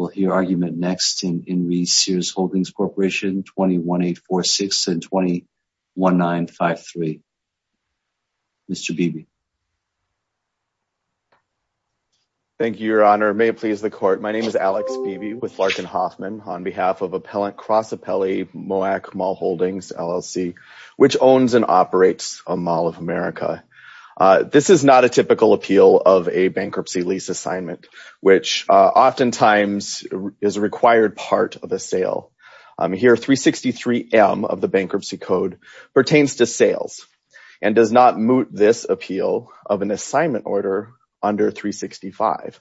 will hear argument next in In Re. Sears Holdings Corporation, 21-846-201953. Mr. Beebe. Thank you, Your Honor. May it please the Court. My name is Alex Beebe with Larkin Hoffman on behalf of Appellant Cross Appellee Moak Mall Holdings, LLC, which owns and operates a Mall of America. This is not a typical appeal of a bankruptcy lease assignment, which oftentimes is a required part of a sale. Here, 363M of the Bankruptcy Code pertains to sales and does not moot this appeal of an assignment order under 365,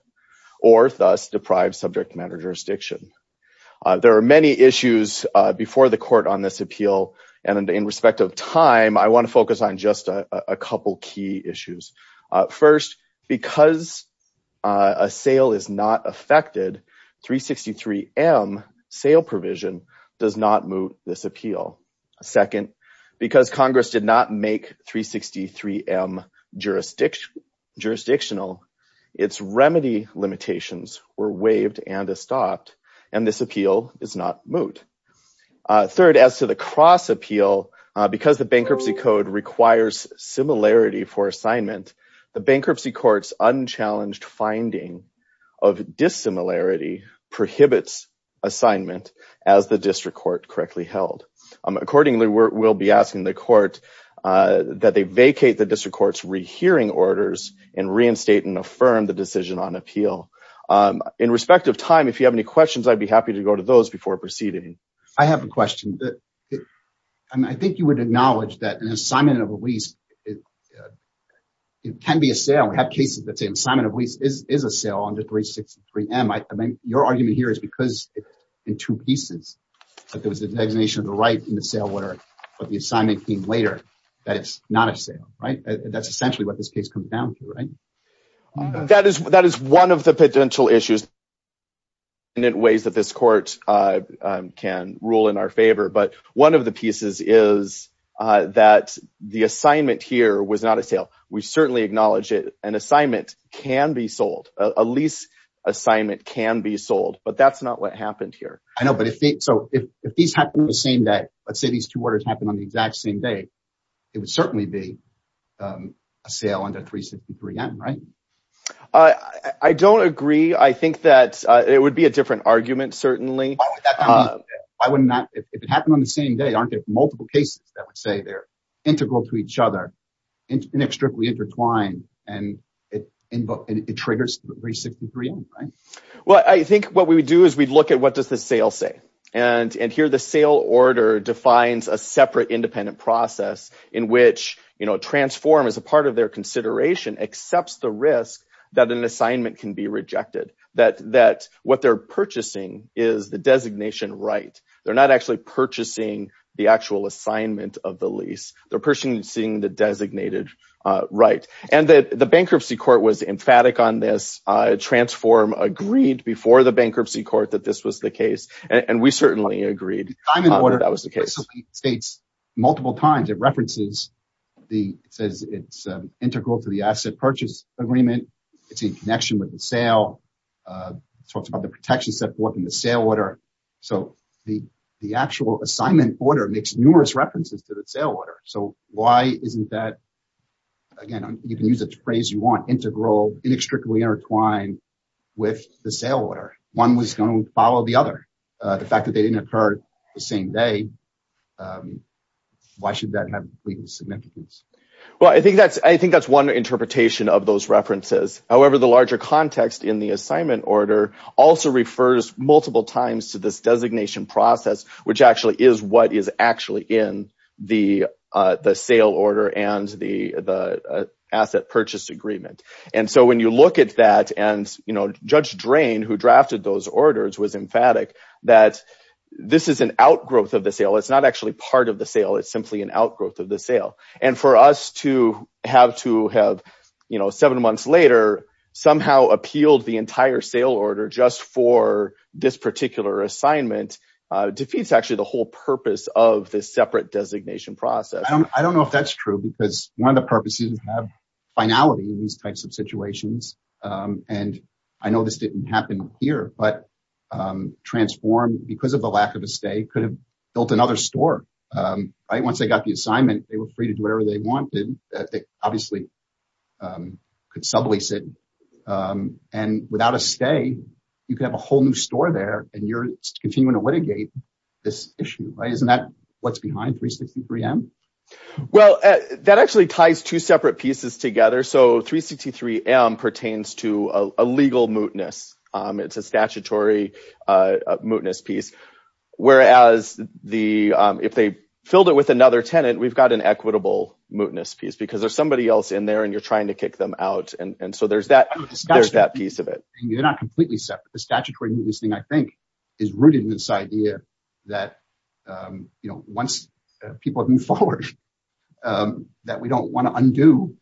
or thus deprive subject matter jurisdiction. There are many issues before the Court on this appeal, and in respect of time, I want to focus on just a couple of key issues. First, because a sale is not affected, 363M sale provision does not moot this appeal. Second, because Congress did not make 363M jurisdictional, its remedy limitations were waived and estopped, and this appeal is not moot. Third, as to the cross appeal, because the Bankruptcy Code requires similarity for assignment, the Bankruptcy Court's unchallenged finding of dissimilarity prohibits assignment as the District Court correctly held. Accordingly, we'll be asking the Court that they vacate the District Court's rehearing orders and reinstate and affirm the decision on appeal. In respect of time, if you have any questions, I'd be happy to those before proceeding. I have a question. I think you would acknowledge that an assignment of a lease, it can be a sale. We have cases that say assignment of lease is a sale under 363M. Your argument here is because in two pieces, that there was a designation of the right in the sale order, but the assignment came later, that it's not a sale, right? That's essentially what this comes down to, right? That is one of the potential issues in ways that this Court can rule in our favor, but one of the pieces is that the assignment here was not a sale. We certainly acknowledge it. An assignment can be sold. A lease assignment can be sold, but that's not what happened here. I know, but if these happen on the same day, let's say these two under 363M, right? I don't agree. I think that it would be a different argument, certainly. If it happened on the same day, aren't there multiple cases that would say they're integral to each other, inextricably intertwined, and it triggers 363M, right? Well, I think what we would do is we'd look at what does the sale say, and here the sale order defines a separate independent process in which Transform, as a part of their consideration, accepts the risk that an assignment can be rejected, that what they're purchasing is the designation right. They're not actually purchasing the actual assignment of the lease. They're purchasing the designated right, and the Bankruptcy Court was emphatic on this. Transform agreed before the Bankruptcy Court that this was the case, and we certainly agreed that was the case. The assignment order basically states multiple times, it references, it says it's integral to the asset purchase agreement. It's in connection with the sale. It talks about the protection set forth in the sale order. So, the actual assignment order makes numerous references to the sale order. So, why isn't that, again, you can use it to phrase you want, integral, inextricably intertwined with the sale order? One was going to follow the other. The fact that they didn't occur the same day, why should that have complete significance? Well, I think that's one interpretation of those references. However, the larger context in the assignment order also refers multiple times to this designation process, which actually is what is actually in the sale order and the asset purchase agreement. And so, when you look at that, and Judge Drain, who drafted those orders, was emphatic that this is an outgrowth of the sale. It's not actually part of the sale. It's simply an outgrowth of the sale. And for us to have to have, you know, seven months later, somehow appealed the entire sale order just for this particular assignment, defeats actually the whole purpose of this separate designation process. I don't know if that's true, because one of the purposes is to have finality in these types of situations. And I know this didn't happen here, but Transform, because of the lack of a stay, could have built another store. Once they got the assignment, they were free to do whatever they wanted. They obviously could sublease it. And without a stay, you could have a whole new store there and you're continuing to litigate this issue, right? Isn't that what's behind 363M? Well, that actually ties two separate pieces together. So, 363M pertains to a legal mootness. It's a statutory mootness piece. Whereas, if they filled it with another tenant, we've got an equitable mootness piece, because there's somebody else in there and you're trying to kick them out. And so, there's that piece of it. They're not completely separate. The statutory mootness thing, I think, is rooted in this idea that once people have moved forward, that we don't want to undo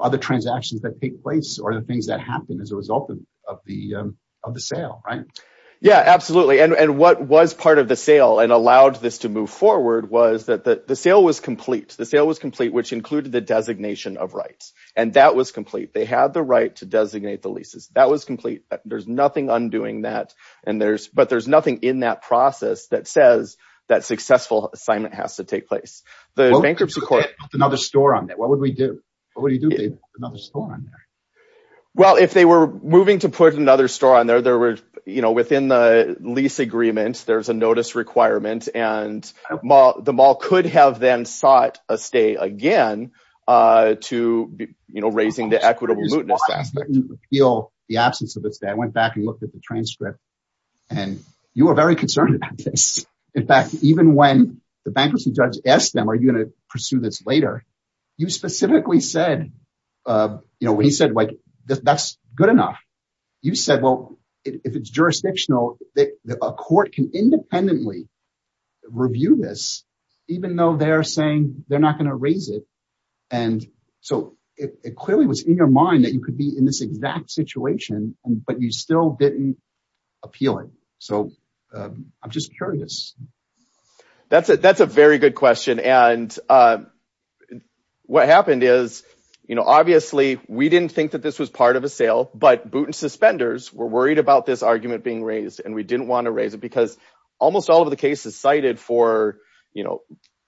other transactions that take place or the things that happen as a result of the sale, right? Yeah, absolutely. And what was part of the sale and allowed this to move forward was that the sale was complete. The sale was complete, which included the designation of rights. And that was complete. They had the right to designate the leases. That was complete. There's nothing undoing that. But there's nothing in that process that says that successful assignment has to take place. The bankruptcy court- Put another store on there. What would we do? What would you do if they put another store on there? Well, if they were moving to put another store on there, within the lease agreement, there's a notice requirement and the mall could have then sought a stay again to, you know, raising the equitable mootness aspect. I didn't appeal the absence of the stay. I went back and looked at the transcript and you were very concerned about this. In fact, even when the bankruptcy judge asked them, are you going to pursue this later? You specifically said, you know, when he said, that's good enough, you said, well, if it's jurisdictional, a court can independently review this, even though they're saying they're not going to raise it. And so it clearly was in your mind that you could be in this exact situation, but you still didn't appeal it. So I'm just curious. That's a very good question. And what happened is, you know, obviously we didn't think that this was part of a sale, but boot and suspenders were worried about this argument being raised. And we didn't want to raise it because almost all of the cases cited for, you know,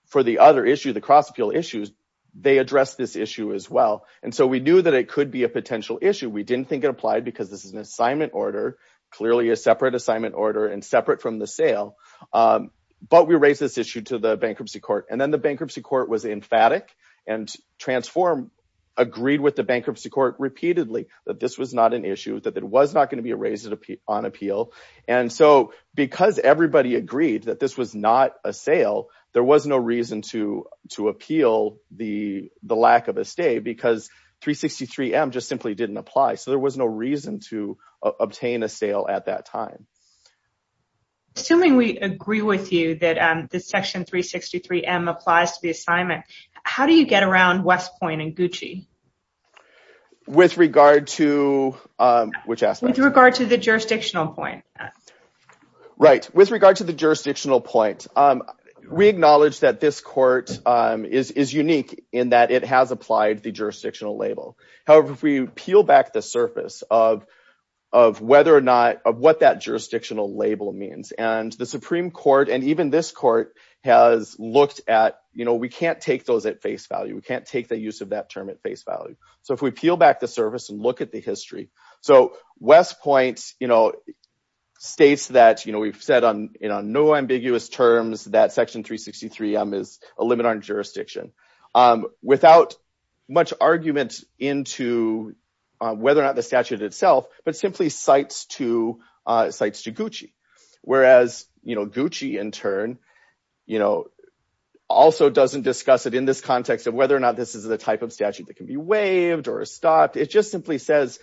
for the other issue, the cross appeal issues, they address this issue as well. And so we knew that it could be a potential issue. We didn't think it applied because this is an assignment order, clearly a separate assignment order and separate from the sale. But we raised this issue to the bankruptcy court and then the bankruptcy court was emphatic and transformed, agreed with the bankruptcy court repeatedly that this was not an issue, that it was not going to be raised on appeal. And so because everybody agreed that this was not a sale, there was no reason to appeal the lack of a stay because 363M just simply didn't apply. So there was no reason to obtain a sale at that time. Assuming we agree with you that the section 363M applies to the assignment, with regard to which aspect? With regard to the jurisdictional point. Right. With regard to the jurisdictional point, we acknowledge that this court is unique in that it has applied the jurisdictional label. However, if we peel back the surface of whether or not, of what that jurisdictional label means and the Supreme Court and even this court has looked at, we can't take those at face value. We can't take the use of that term at face value. So if we peel back the surface and look at the history, so West Point states that we've said no ambiguous terms that section 363M is a limit on jurisdiction without much argument into whether or not the statute itself, but simply cites to Gucci. Whereas Gucci in turn also doesn't discuss it in this context of whether or not this is the type of statute that can be waived or stopped. It just simply says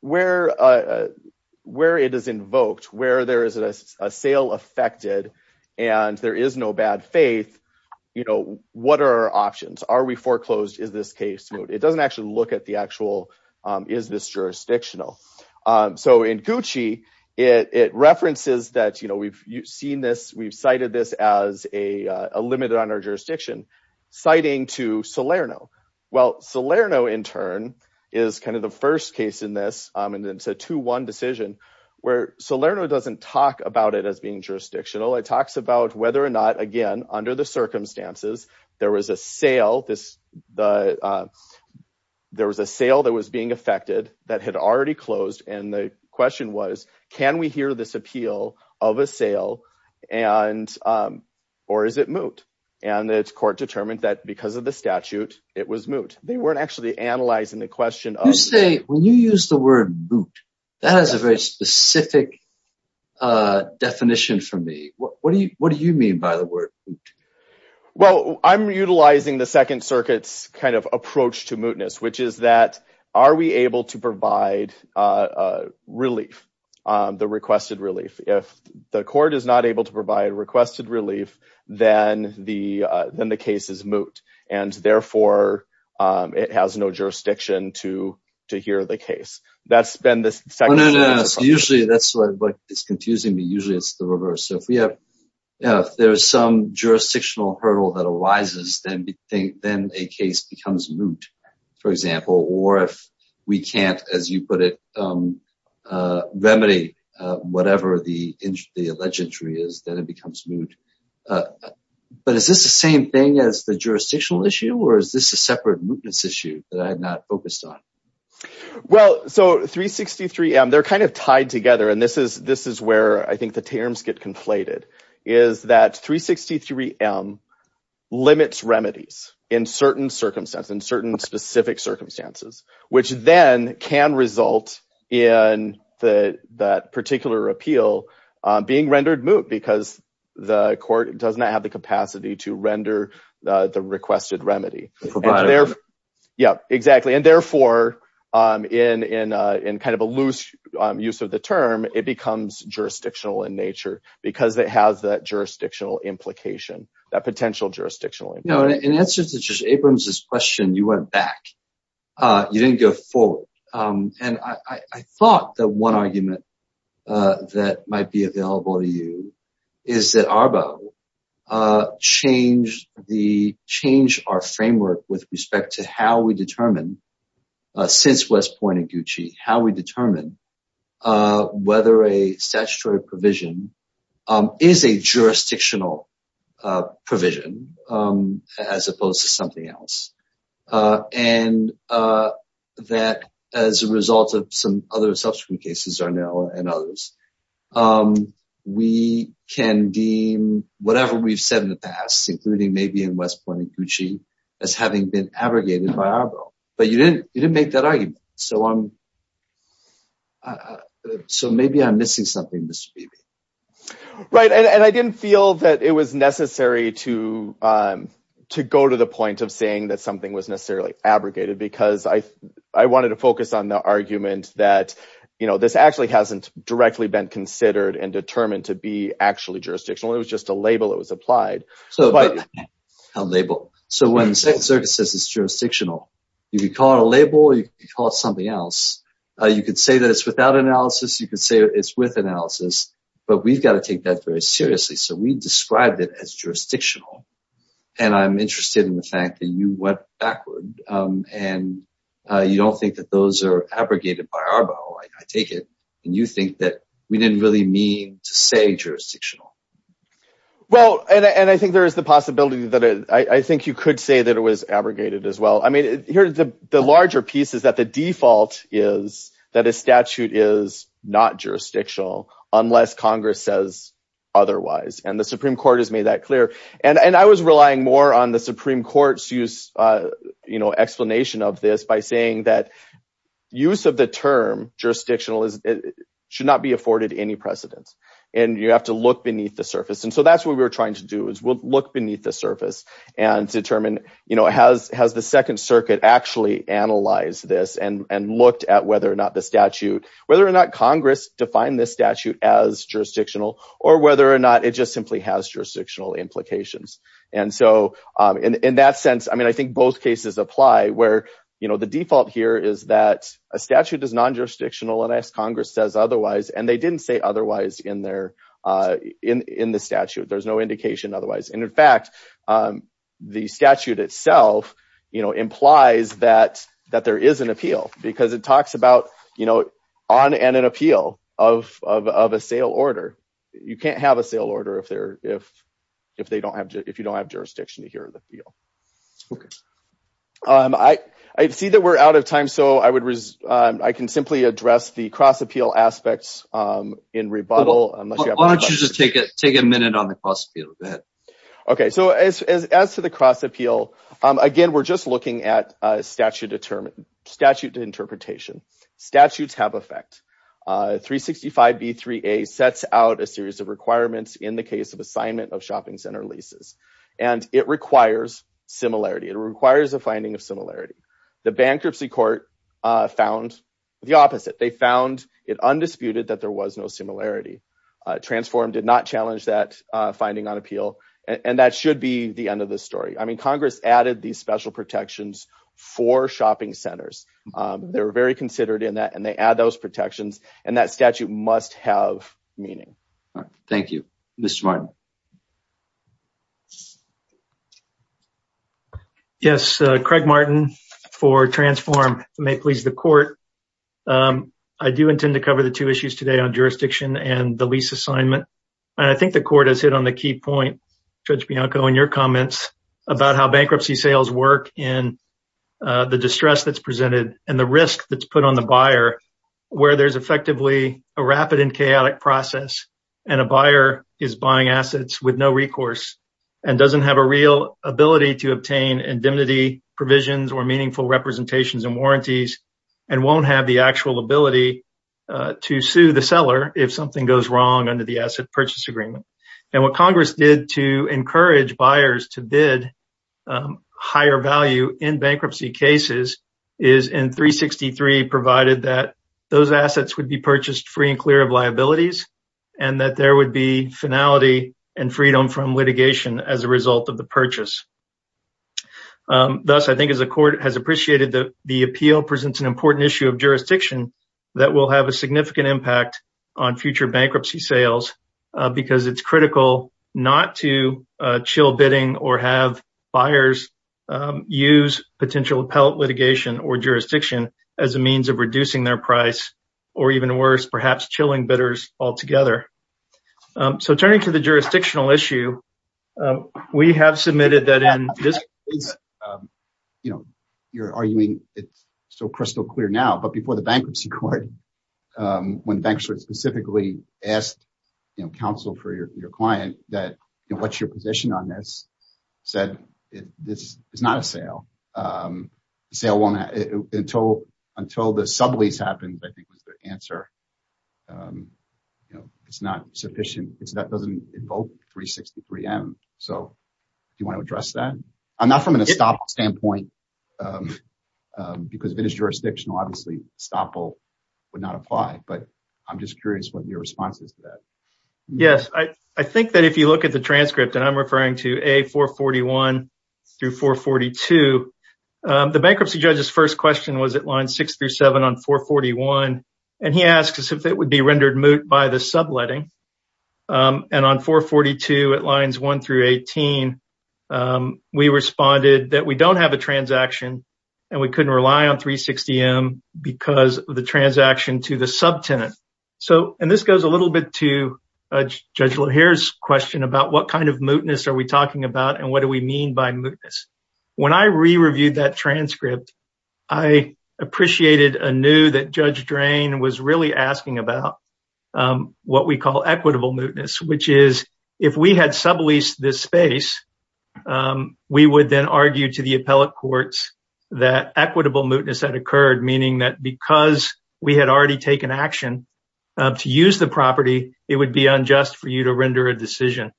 where it is invoked, where there is a sale affected and there is no bad faith, what are our options? Are we foreclosed? Is this case smooth? It doesn't actually look at the actual, is this jurisdictional? So in Gucci, it references that we've cited this as a limit on our jurisdiction citing to Salerno. Well, Salerno in turn is kind of the first case in this. And then it's a two, one decision where Salerno doesn't talk about it as being jurisdictional. It talks about whether or not, again, under the circumstances, there was a sale that was being affected that had already closed. And the question was, can we hear this and or is it moot? And it's court determined that because of the statute, it was moot. They weren't actually analyzing the question. You say, when you use the word moot, that has a very specific definition for me. What do you mean by the word? Well, I'm utilizing the second circuits kind of approach to mootness, which is that, are we able to provide relief, the requested relief? If the court is not able to provide requested relief, then the case is moot. And therefore, it has no jurisdiction to hear the case. That's been the second... No, no, no. Usually that's what is confusing me. Usually it's the reverse. So if there's some jurisdictional hurdle that arises, then a case becomes moot, for example, or if we can't, as you put it, remedy whatever the alleged injury is, then it becomes moot. But is this the same thing as the jurisdictional issue, or is this a separate mootness issue that I'm not focused on? Well, so 363M, they're kind of tied together. And this is where I think the terms get conflated, is that 363M limits remedies in certain circumstances, in certain specific circumstances, which then can result in that particular appeal being rendered moot because the court does not have the capacity to render the requested remedy. And therefore, in kind of a loose use of the term, it becomes jurisdictional in nature because it has that jurisdictional implication, that potential jurisdictional implication. In answer to Judge Abrams' question, you went back. You didn't go forward. And I thought that one argument that might be available to you is that ARBO changed our framework with respect to how we determine, since West Point and Gucci, how we determine whether a statutory provision is a jurisdictional provision as opposed to something else. And that as a result of some other subsequent cases, Arnell and others, we can deem whatever we've said in the past, including maybe in West Point and Gucci, as having been abrogated by ARBO. But you didn't make that argument. So maybe I'm missing something, Mr. Beebe. Right. And I didn't feel that it was necessary to go to the point of saying that something was necessarily abrogated because I wanted to focus on the argument that this actually hasn't directly been considered and determined to be actually jurisdictional. It was just a label that was called a label. So when the Second Circuit says it's jurisdictional, you can call it a label or you can call it something else. You could say that it's without analysis. You could say it's with analysis. But we've got to take that very seriously. So we described it as jurisdictional. And I'm interested in the fact that you went backward and you don't think that those are abrogated by ARBO, I take it. And you think that we didn't really mean to say jurisdictional. Well, and I think there is the possibility that I think you could say that it was abrogated as well. I mean, here's the larger piece is that the default is that a statute is not jurisdictional unless Congress says otherwise. And the Supreme Court has made that clear. And I was relying more on the Supreme Court's explanation of this by saying that use of the term jurisdictional should not be afforded any precedence. And you have to look beneath the surface. And so that's what we were trying to do is we'll look beneath the surface and determine has the Second Circuit actually analyzed this and looked at whether or not the statute, whether or not Congress defined this statute as jurisdictional or whether or not it just simply has jurisdictional implications. And so in that sense, I mean, I think both cases apply where the default here is that a statute is non-jurisdictional unless Congress says otherwise. And they didn't say otherwise in the statute, there's no indication otherwise. And in fact, the statute itself implies that there is an appeal because it talks about on an appeal of a sale order. You can't have a sale order if you don't jurisdiction to hear the appeal. Okay. I see that we're out of time. So I can simply address the cross appeal aspects in rebuttal. Why don't you just take a minute on the cross appeal? Go ahead. Okay. So as to the cross appeal, again, we're just looking at statute to interpretation. Statutes have effect. 365B3A sets out a series of requirements in the case of assignment of shopping center leases, and it requires similarity. It requires a finding of similarity. The bankruptcy court found the opposite. They found it undisputed that there was no similarity. Transform did not challenge that finding on appeal. And that should be the end of the story. I mean, Congress added these special protections for shopping centers. They were very considered in that, and they add those protections and that statute must have meaning. Thank you. Mr. Martin. Yes. Craig Martin for Transform. If it may please the court, I do intend to cover the two issues today on jurisdiction and the lease assignment. And I think the court has hit on the key point, Judge Bianco, in your comments about how bankruptcy sales work in the distress that's presented and the risk that's put on the buyer where there's effectively a rapid and chaotic process and a buyer is buying assets with no recourse and doesn't have a real ability to obtain indemnity provisions or meaningful representations and warranties and won't have the actual ability to sue the seller if something goes wrong under the asset purchase agreement. And what Congress did to encourage buyers to bid higher value in bankruptcy cases is in 363 provided that those assets would be purchased free and clear of liabilities and that there would be finality and freedom from litigation as a result of the purchase. Thus, I think as the court has appreciated that the appeal presents an important issue of jurisdiction that will have a significant impact on future bankruptcy sales because it's jurisdiction as a means of reducing their price or even worse, perhaps chilling bidders altogether. So turning to the jurisdictional issue, we have submitted that in this case, you know, you're arguing it's so crystal clear now, but before the bankruptcy court, when banks were specifically asked, you know, counsel for your client that, you know, what's your position on this said, it's not a sale. Until the sublease happens, I think was the answer, you know, it's not sufficient. That doesn't invoke 363M. So do you want to address that? I'm not from a Staple standpoint because it's jurisdictional, obviously Staple would not apply, but I'm just curious what your response is to that. Yes. I think that if you look at the A441-442, the bankruptcy judge's first question was at line 6-7 on 441 and he asked us if it would be rendered moot by the subletting and on 442 at lines 1-18, we responded that we don't have a transaction and we couldn't rely on 360M because of the transaction to the subtenant. So, and this goes a little bit to Judge LaHare's question about what kind of mootness are we talking about and what do we mean by mootness? When I re-reviewed that transcript, I appreciated anew that Judge Drain was really asking about what we call equitable mootness, which is if we had subleased this space, we would then argue to the appellate courts that equitable mootness had to use the property, it would be unjust for you to render a decision.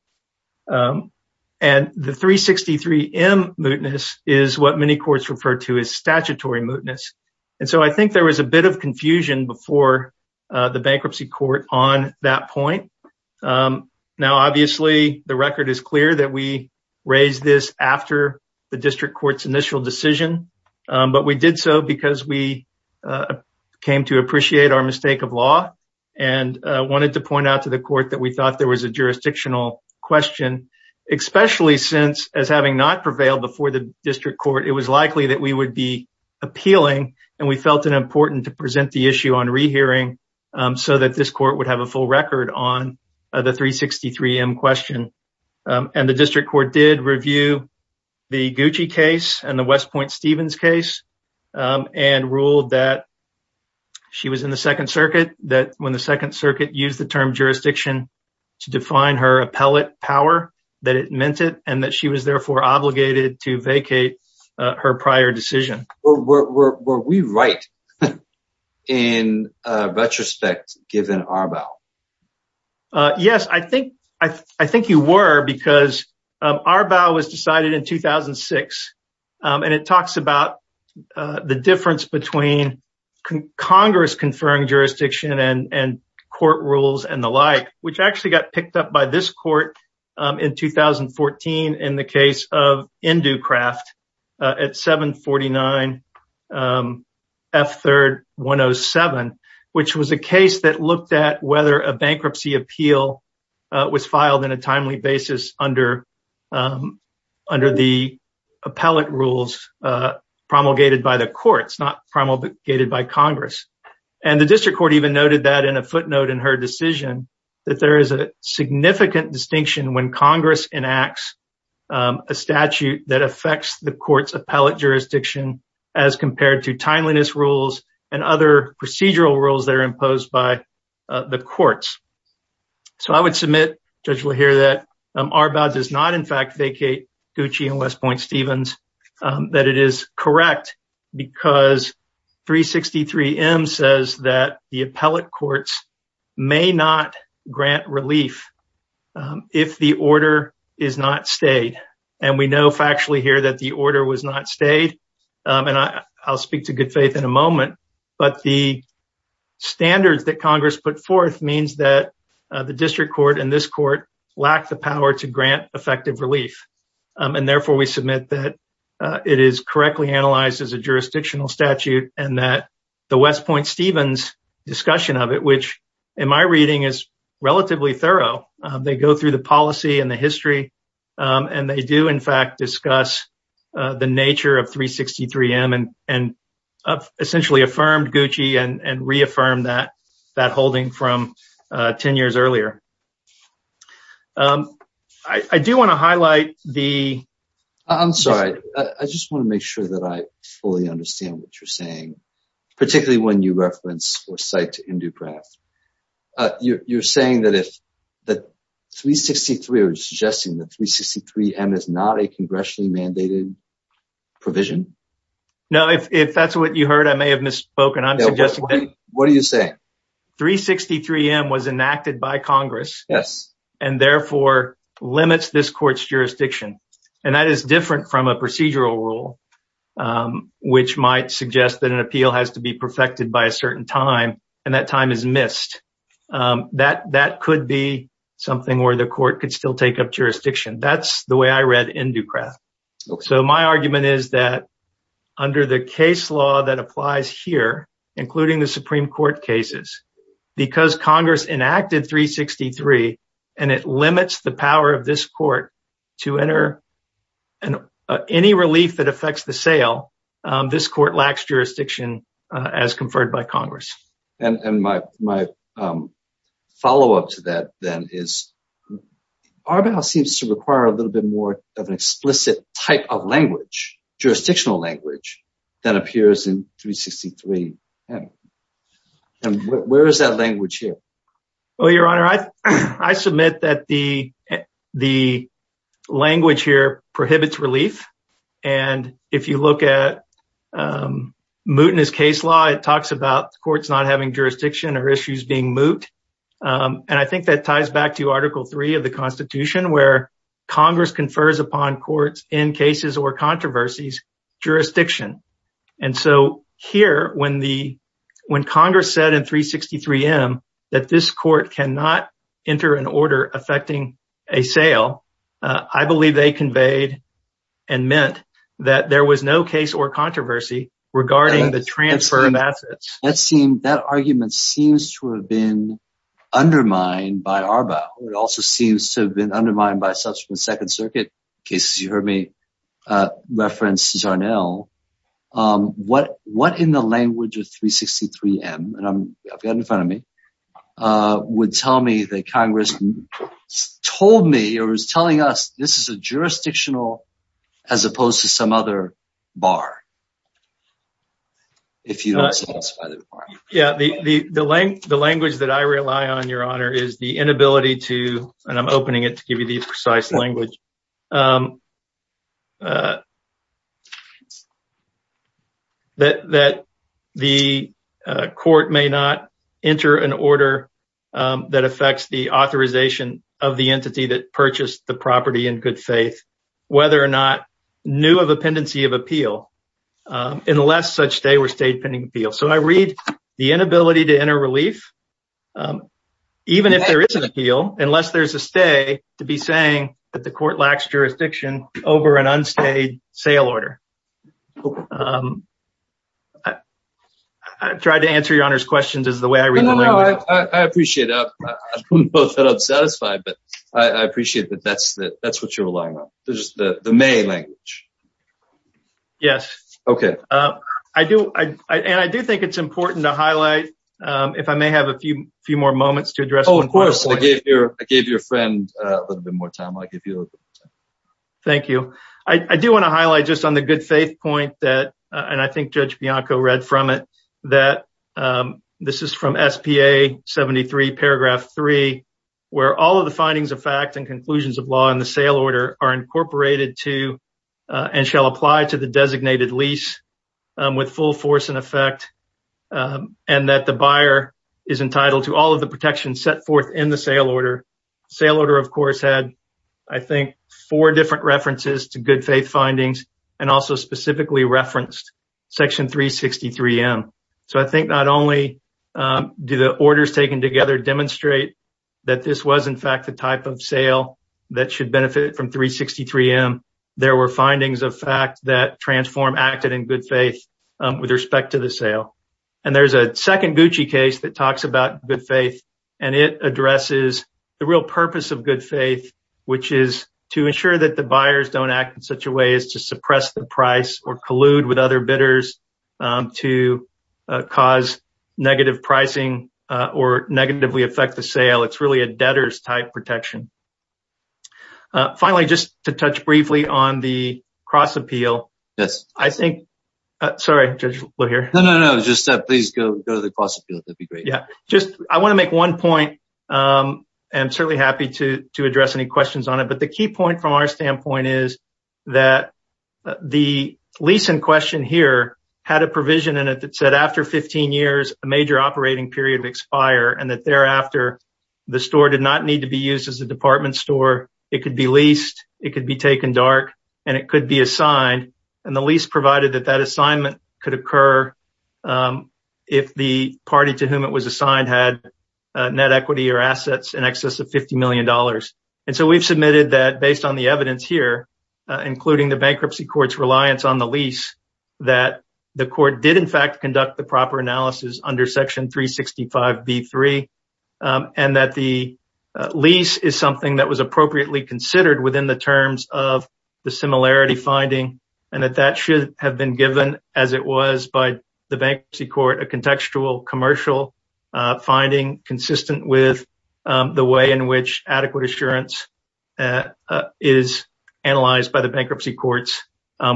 And the 363M mootness is what many courts refer to as statutory mootness, and so I think there was a bit of confusion before the bankruptcy court on that point. Now, obviously the record is clear that we raised this after the district court's initial decision, but we did so because we came to appreciate our mistake of law and wanted to point out to the court that we thought there was a jurisdictional question, especially since as having not prevailed before the district court, it was likely that we would be appealing and we felt it important to present the issue on rehearing so that this court would have a full record on the 363M question. And the district court did review the Gucci case and the West Point Stevens case and ruled that she was in the Second Circuit, that when the Second Circuit used the term jurisdiction to define her appellate power, that it meant it and that she was therefore obligated to vacate her prior decision. Were we right in retrospect given Arbaugh? Yes, I think you were, because Arbaugh was decided in 2006, and it talks about the difference between Congress-conferring jurisdiction and court rules and the like, which actually got picked up by this court in 2014 in the case of Inducraft at 749 F3-107, which was a case that looked at whether a bankruptcy appeal was filed in a timely basis under the appellate rules promulgated by the courts, not promulgated by Congress. And the district court even noted that in a footnote in her decision, that there is a significant distinction when Congress enacts a statute that affects the court's appellate jurisdiction as compared to timeliness rules and other procedural rules that are imposed by the courts. So I would submit, Judge Lahir, that Arbaugh does not in fact vacate Gucci and West Point Stevens, that it is correct because 363M says that the appellate courts may not grant relief if the order is not stayed. And we know factually here that the order was not stayed, and I'll speak to good faith in a moment, but the standards that Congress put forth means that the district court and this court lack the power to grant effective relief. And therefore, we submit that it is correctly analyzed as a jurisdictional statute and that the West Point Stevens discussion of it, which in my reading is relatively thorough, they go through the policy and the history, and they do in fact discuss the nature of 363M and essentially affirmed Gucci and reaffirmed that holding from 10 years earlier. I do want to highlight the... I'm sorry, I just want to make sure that I fully understand what you're saying, particularly when you reference or cite Induprav. You're saying that 363M is not a congressionally mandated provision? No, if that's what you heard, I may have misspoken. What are you saying? 363M was enacted by Congress and therefore limits this court's jurisdiction, and that is because it's not a jurisdiction that is conferred by a certain time and that time is missed. That could be something where the court could still take up jurisdiction. That's the way I read Induprav. So my argument is that under the case law that applies here, including the Supreme Court cases, because Congress enacted 363 and it limits the power of this court to enter and any relief that affects the sale, this court lacks jurisdiction as conferred by Congress. And my follow-up to that then is Arbel seems to require a little bit more of an explicit type of language, jurisdictional language, than appears in 363M. And where is that language here? Well, Your Honor, I submit that the language here prohibits relief. And if you look at mootness case law, it talks about courts not having jurisdiction or issues being moot. And I think that ties back to Article 3 of the Constitution where Congress confers upon courts in cases or controversies jurisdiction. And so here, when Congress said in 363M that this court cannot enter an order affecting a sale, I believe they conveyed and meant that there was no case or controversy regarding the transfer of assets. That argument seems to have been undermined by Arbel. It also seems to have been undermined by subsequent Second Circuit cases. You heard me reference Zarnell. What in the language of 363M, and I've got it in front of me, would tell me that Congress told me or was telling us this is a jurisdictional as opposed to some other bar if you don't satisfy the requirement? Yeah, the language that I rely on, Your Honor, is the inability to, and I'm opening it to give you precise language, that the court may not enter an order that affects the authorization of the entity that purchased the property in good faith, whether or not new of appendency of appeal, unless such stay were stayed pending appeal. So I read the inability to enter relief, even if there is an appeal, unless there's a stay to be saying that the court lacks jurisdiction over an unstayed sale order. I tried to answer Your Honor's questions as the way I read the language. No, no, no. I appreciate it. I'm both fed up and satisfied, but I appreciate that that's what you're relying on. May language. Yes. Okay. And I do think it's important to highlight, if I may have a few more moments to address... Oh, of course. I gave your friend a little bit more time. Thank you. I do want to highlight just on the good faith point that, and I think Judge Bianco read from it, that this is from SPA 73 paragraph three, where all of the findings of and conclusions of law in the sale order are incorporated to and shall apply to the designated lease with full force and effect, and that the buyer is entitled to all of the protections set forth in the sale order. Sale order, of course, had, I think, four different references to good faith findings and also specifically referenced section 363M. So I think not only do the orders taken together demonstrate that this was in fact the type of sale that should benefit from 363M, there were findings of fact that Transform acted in good faith with respect to the sale. And there's a second Gucci case that talks about good faith, and it addresses the real purpose of good faith, which is to ensure that the buyers don't act in such a way as to suppress the price or collude with other bidders to cause negative pricing or negatively affect the sale. It's really a debtor's type protection. Finally, just to touch briefly on the cross appeal. Yes. I think, sorry, Judge Lohier. No, no, no, just please go to the cross appeal. That'd be great. Yeah, just, I want to make one point, and I'm certainly happy to address any questions on it, but the key point from our question here had a provision in it that said after 15 years, a major operating period would expire and that thereafter, the store did not need to be used as a department store. It could be leased, it could be taken dark, and it could be assigned. And the lease provided that that assignment could occur if the party to whom it was assigned had net equity or assets in excess of $50 million. And so we've submitted that based on the evidence here, including the bankruptcy court's reliance on the lease, that the court did in fact conduct the proper analysis under section 365B3, and that the lease is something that was appropriately considered within the terms of the similarity finding, and that that should have been given as it was by the bankruptcy court, a contextual commercial finding consistent with the way in which adequate assurance is analyzed by the bankruptcy courts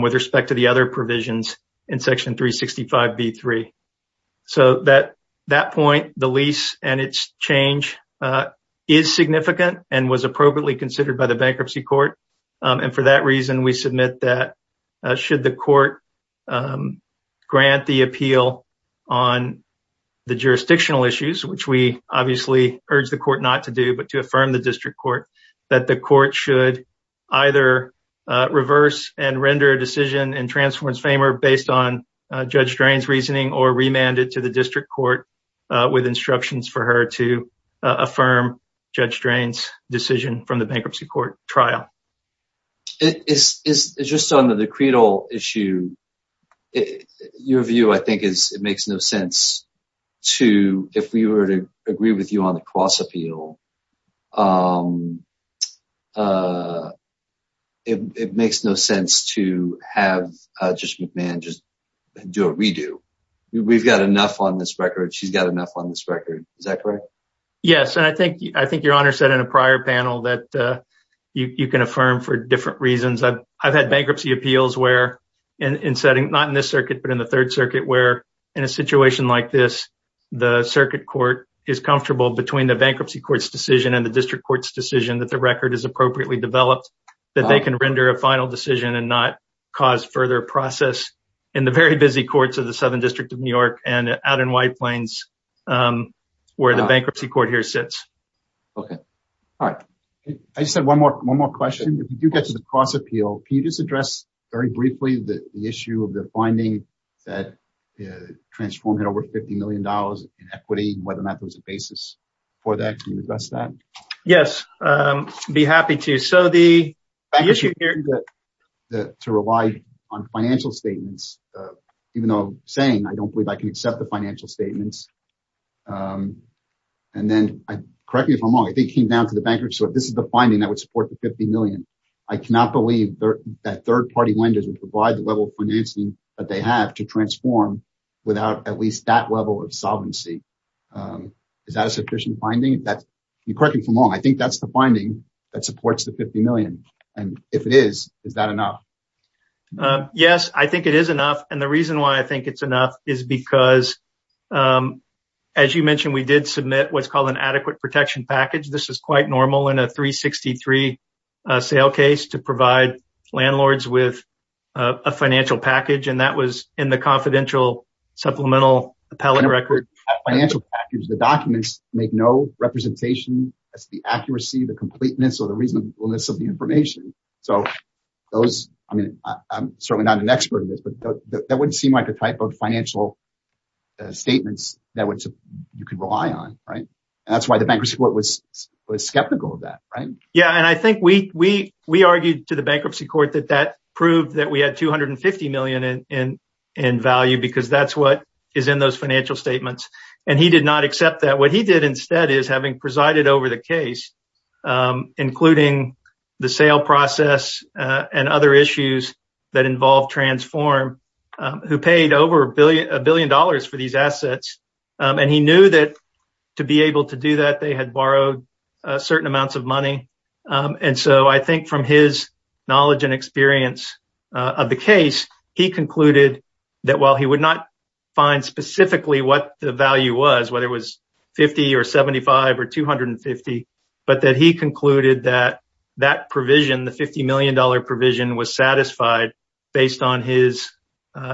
with respect to the other provisions in section 365B3. So at that point, the lease and its change is significant and was appropriately considered by the bankruptcy court. And for that reason, we submit that should the court grant the appeal on the jurisdictional issues, which we obviously urge the court not to do, but to affirm the that the court should either reverse and render a decision in Transformance FAMER based on Judge Drain's reasoning or remand it to the district court with instructions for her to affirm Judge Drain's decision from the bankruptcy court trial. It's just on the credal issue. Your view, I think, is it makes no sense to, if we were to agree with you on the cross appeal, it makes no sense to have Judge McMahon just do a redo. We've got enough on this record. She's got enough on this record. Is that correct? Yes, and I think your Honor said in a prior panel that you can affirm for different reasons. I've had bankruptcy appeals where, in setting, not in this circuit, but in the Third Circuit, where in a situation like this, the circuit court is comfortable between the bankruptcy court's decision and the district court's decision that the record is appropriately developed, that they can render a final decision and not cause further process in the very busy courts of the Southern District of New York and out in White Plains where the bankruptcy court here sits. Okay, all right. I just have one more question. If you do get to the cross appeal, can you just address very briefly the issue of the inequity and whether or not there's a basis for that? Can you address that? Yes, I'd be happy to. To rely on financial statements, even though I'm saying I don't believe I can accept the financial statements, and then, correct me if I'm wrong, I think it came down to the bankruptcy court. This is the finding that would support the $50 million. I cannot believe that third party lenders would provide the level of financing that they have to transform without at least that level of solvency. Is that a sufficient finding? Correct me if I'm wrong, I think that's the finding that supports the $50 million, and if it is, is that enough? Yes, I think it is enough, and the reason why I think it's enough is because, as you mentioned, we did submit what's called an adequate protection package. This is quite normal in a 363 sale case to provide landlords with a financial package, and that was in the confidential supplemental appellate record. The documents make no representation as to the accuracy, the completeness, or the reasonableness of the information. I'm certainly not an expert in this, but that wouldn't seem like a type of financial statements that you could rely on, and that's why the bankruptcy court was skeptical of it. We argued to the bankruptcy court that that proved that we had $250 million in value because that's what is in those financial statements, and he did not accept that. What he did instead is, having presided over the case, including the sale process and other issues that involve transform, who paid over a billion dollars for these assets, and he knew that to be able to do that, they had borrowed certain amounts of money. I think from his knowledge and experience of the case, he concluded that while he would not find specifically what the value was, whether it was 50 or 75 or 250, but that he concluded that that provision, the $50 million provision, was satisfied based on his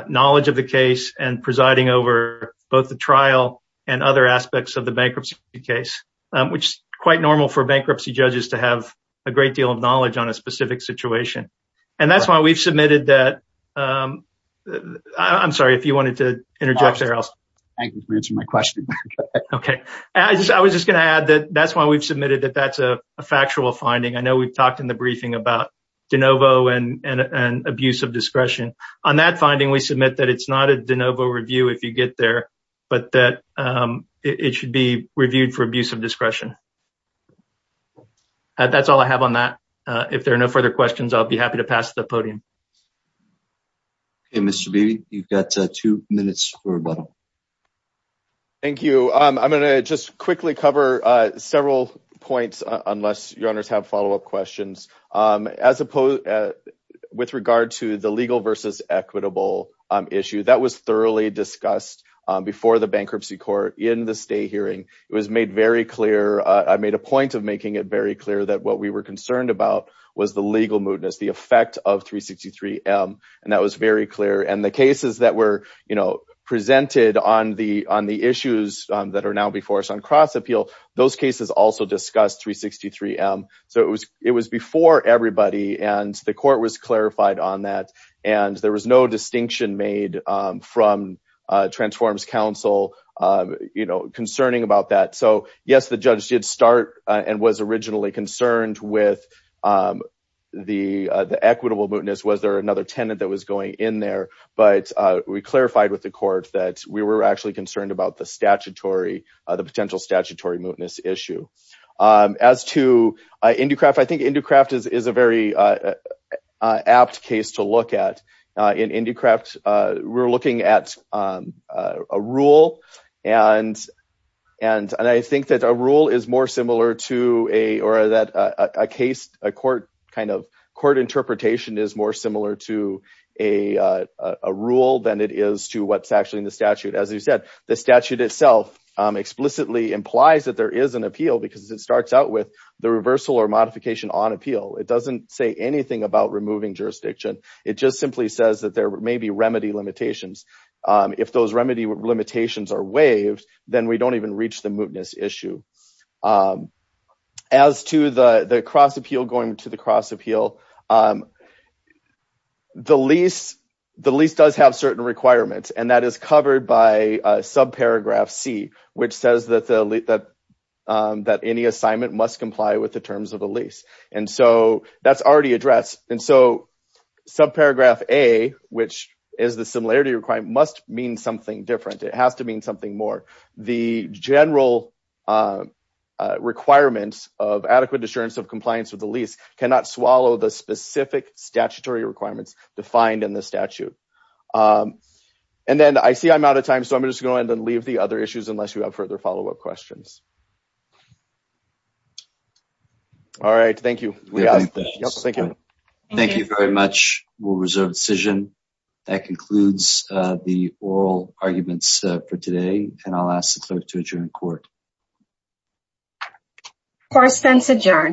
knowledge of the case and presiding over both the trial and other aspects of the bankruptcy case, which is quite normal for bankruptcy judges to have a great deal of knowledge on a specific situation. That's why we've submitted that. I'm sorry if you wanted to interject there. I was just going to add that that's why we've submitted that that's a factual finding. I know we've talked in the briefing about de novo and abuse of discretion. On that finding, we submit that it's not a de novo review if you get there, but that it should be reviewed for abuse of discretion. That's all I have on that. If there are no further questions, I'll be happy to pass the podium. Mr. Beattie, you've got two minutes for rebuttal. Thank you. I'm going to just quickly cover several points, unless your honors have follow-up questions. With regard to the legal versus equitable issue, that was thoroughly discussed before the bankruptcy court in the state hearing. I made a point of making it very clear that what we were concerned about was the legal mootness, the effect of 363M, and that was very clear. The cases that were presented on the issues that are now before us on cross appeal, those cases also discussed 363M. It was before everybody, and the court was clarified on that, and there was no distinction made from Transforms Council concerning about that. Yes, the judge did start and was originally concerned with the equitable mootness. Was there another tenant that was going in there? We clarified with the court that we were actually concerned about the potential statutory mootness issue. As to Inducraft, I think Inducraft is a very apt case to look at. In Inducraft, we're looking at a rule, and I think that a rule is more similar to a case, a court interpretation is more similar to a rule than it is to what's actually in the statute. The statute itself explicitly implies that there is an appeal because it starts out with the reversal or modification on appeal. It doesn't say anything about removing jurisdiction. It just simply says that there may be remedy limitations. If those remedy limitations are waived, then we don't even reach the mootness issue. As to the cross appeal going to the cross which says that any assignment must comply with the terms of the lease, and so that's already addressed. Subparagraph A, which is the similarity requirement, must mean something different. It has to mean something more. The general requirements of adequate assurance of compliance with the lease cannot swallow the specific statutory requirements defined in the statute. I see I'm out of time, so I'm just going to go ahead and leave the other issues unless you have further follow-up questions. All right, thank you. Thank you. Thank you very much. We'll reserve decision. That concludes the oral arguments for today, and I'll ask the clerk to adjourn court. Court is adjourned.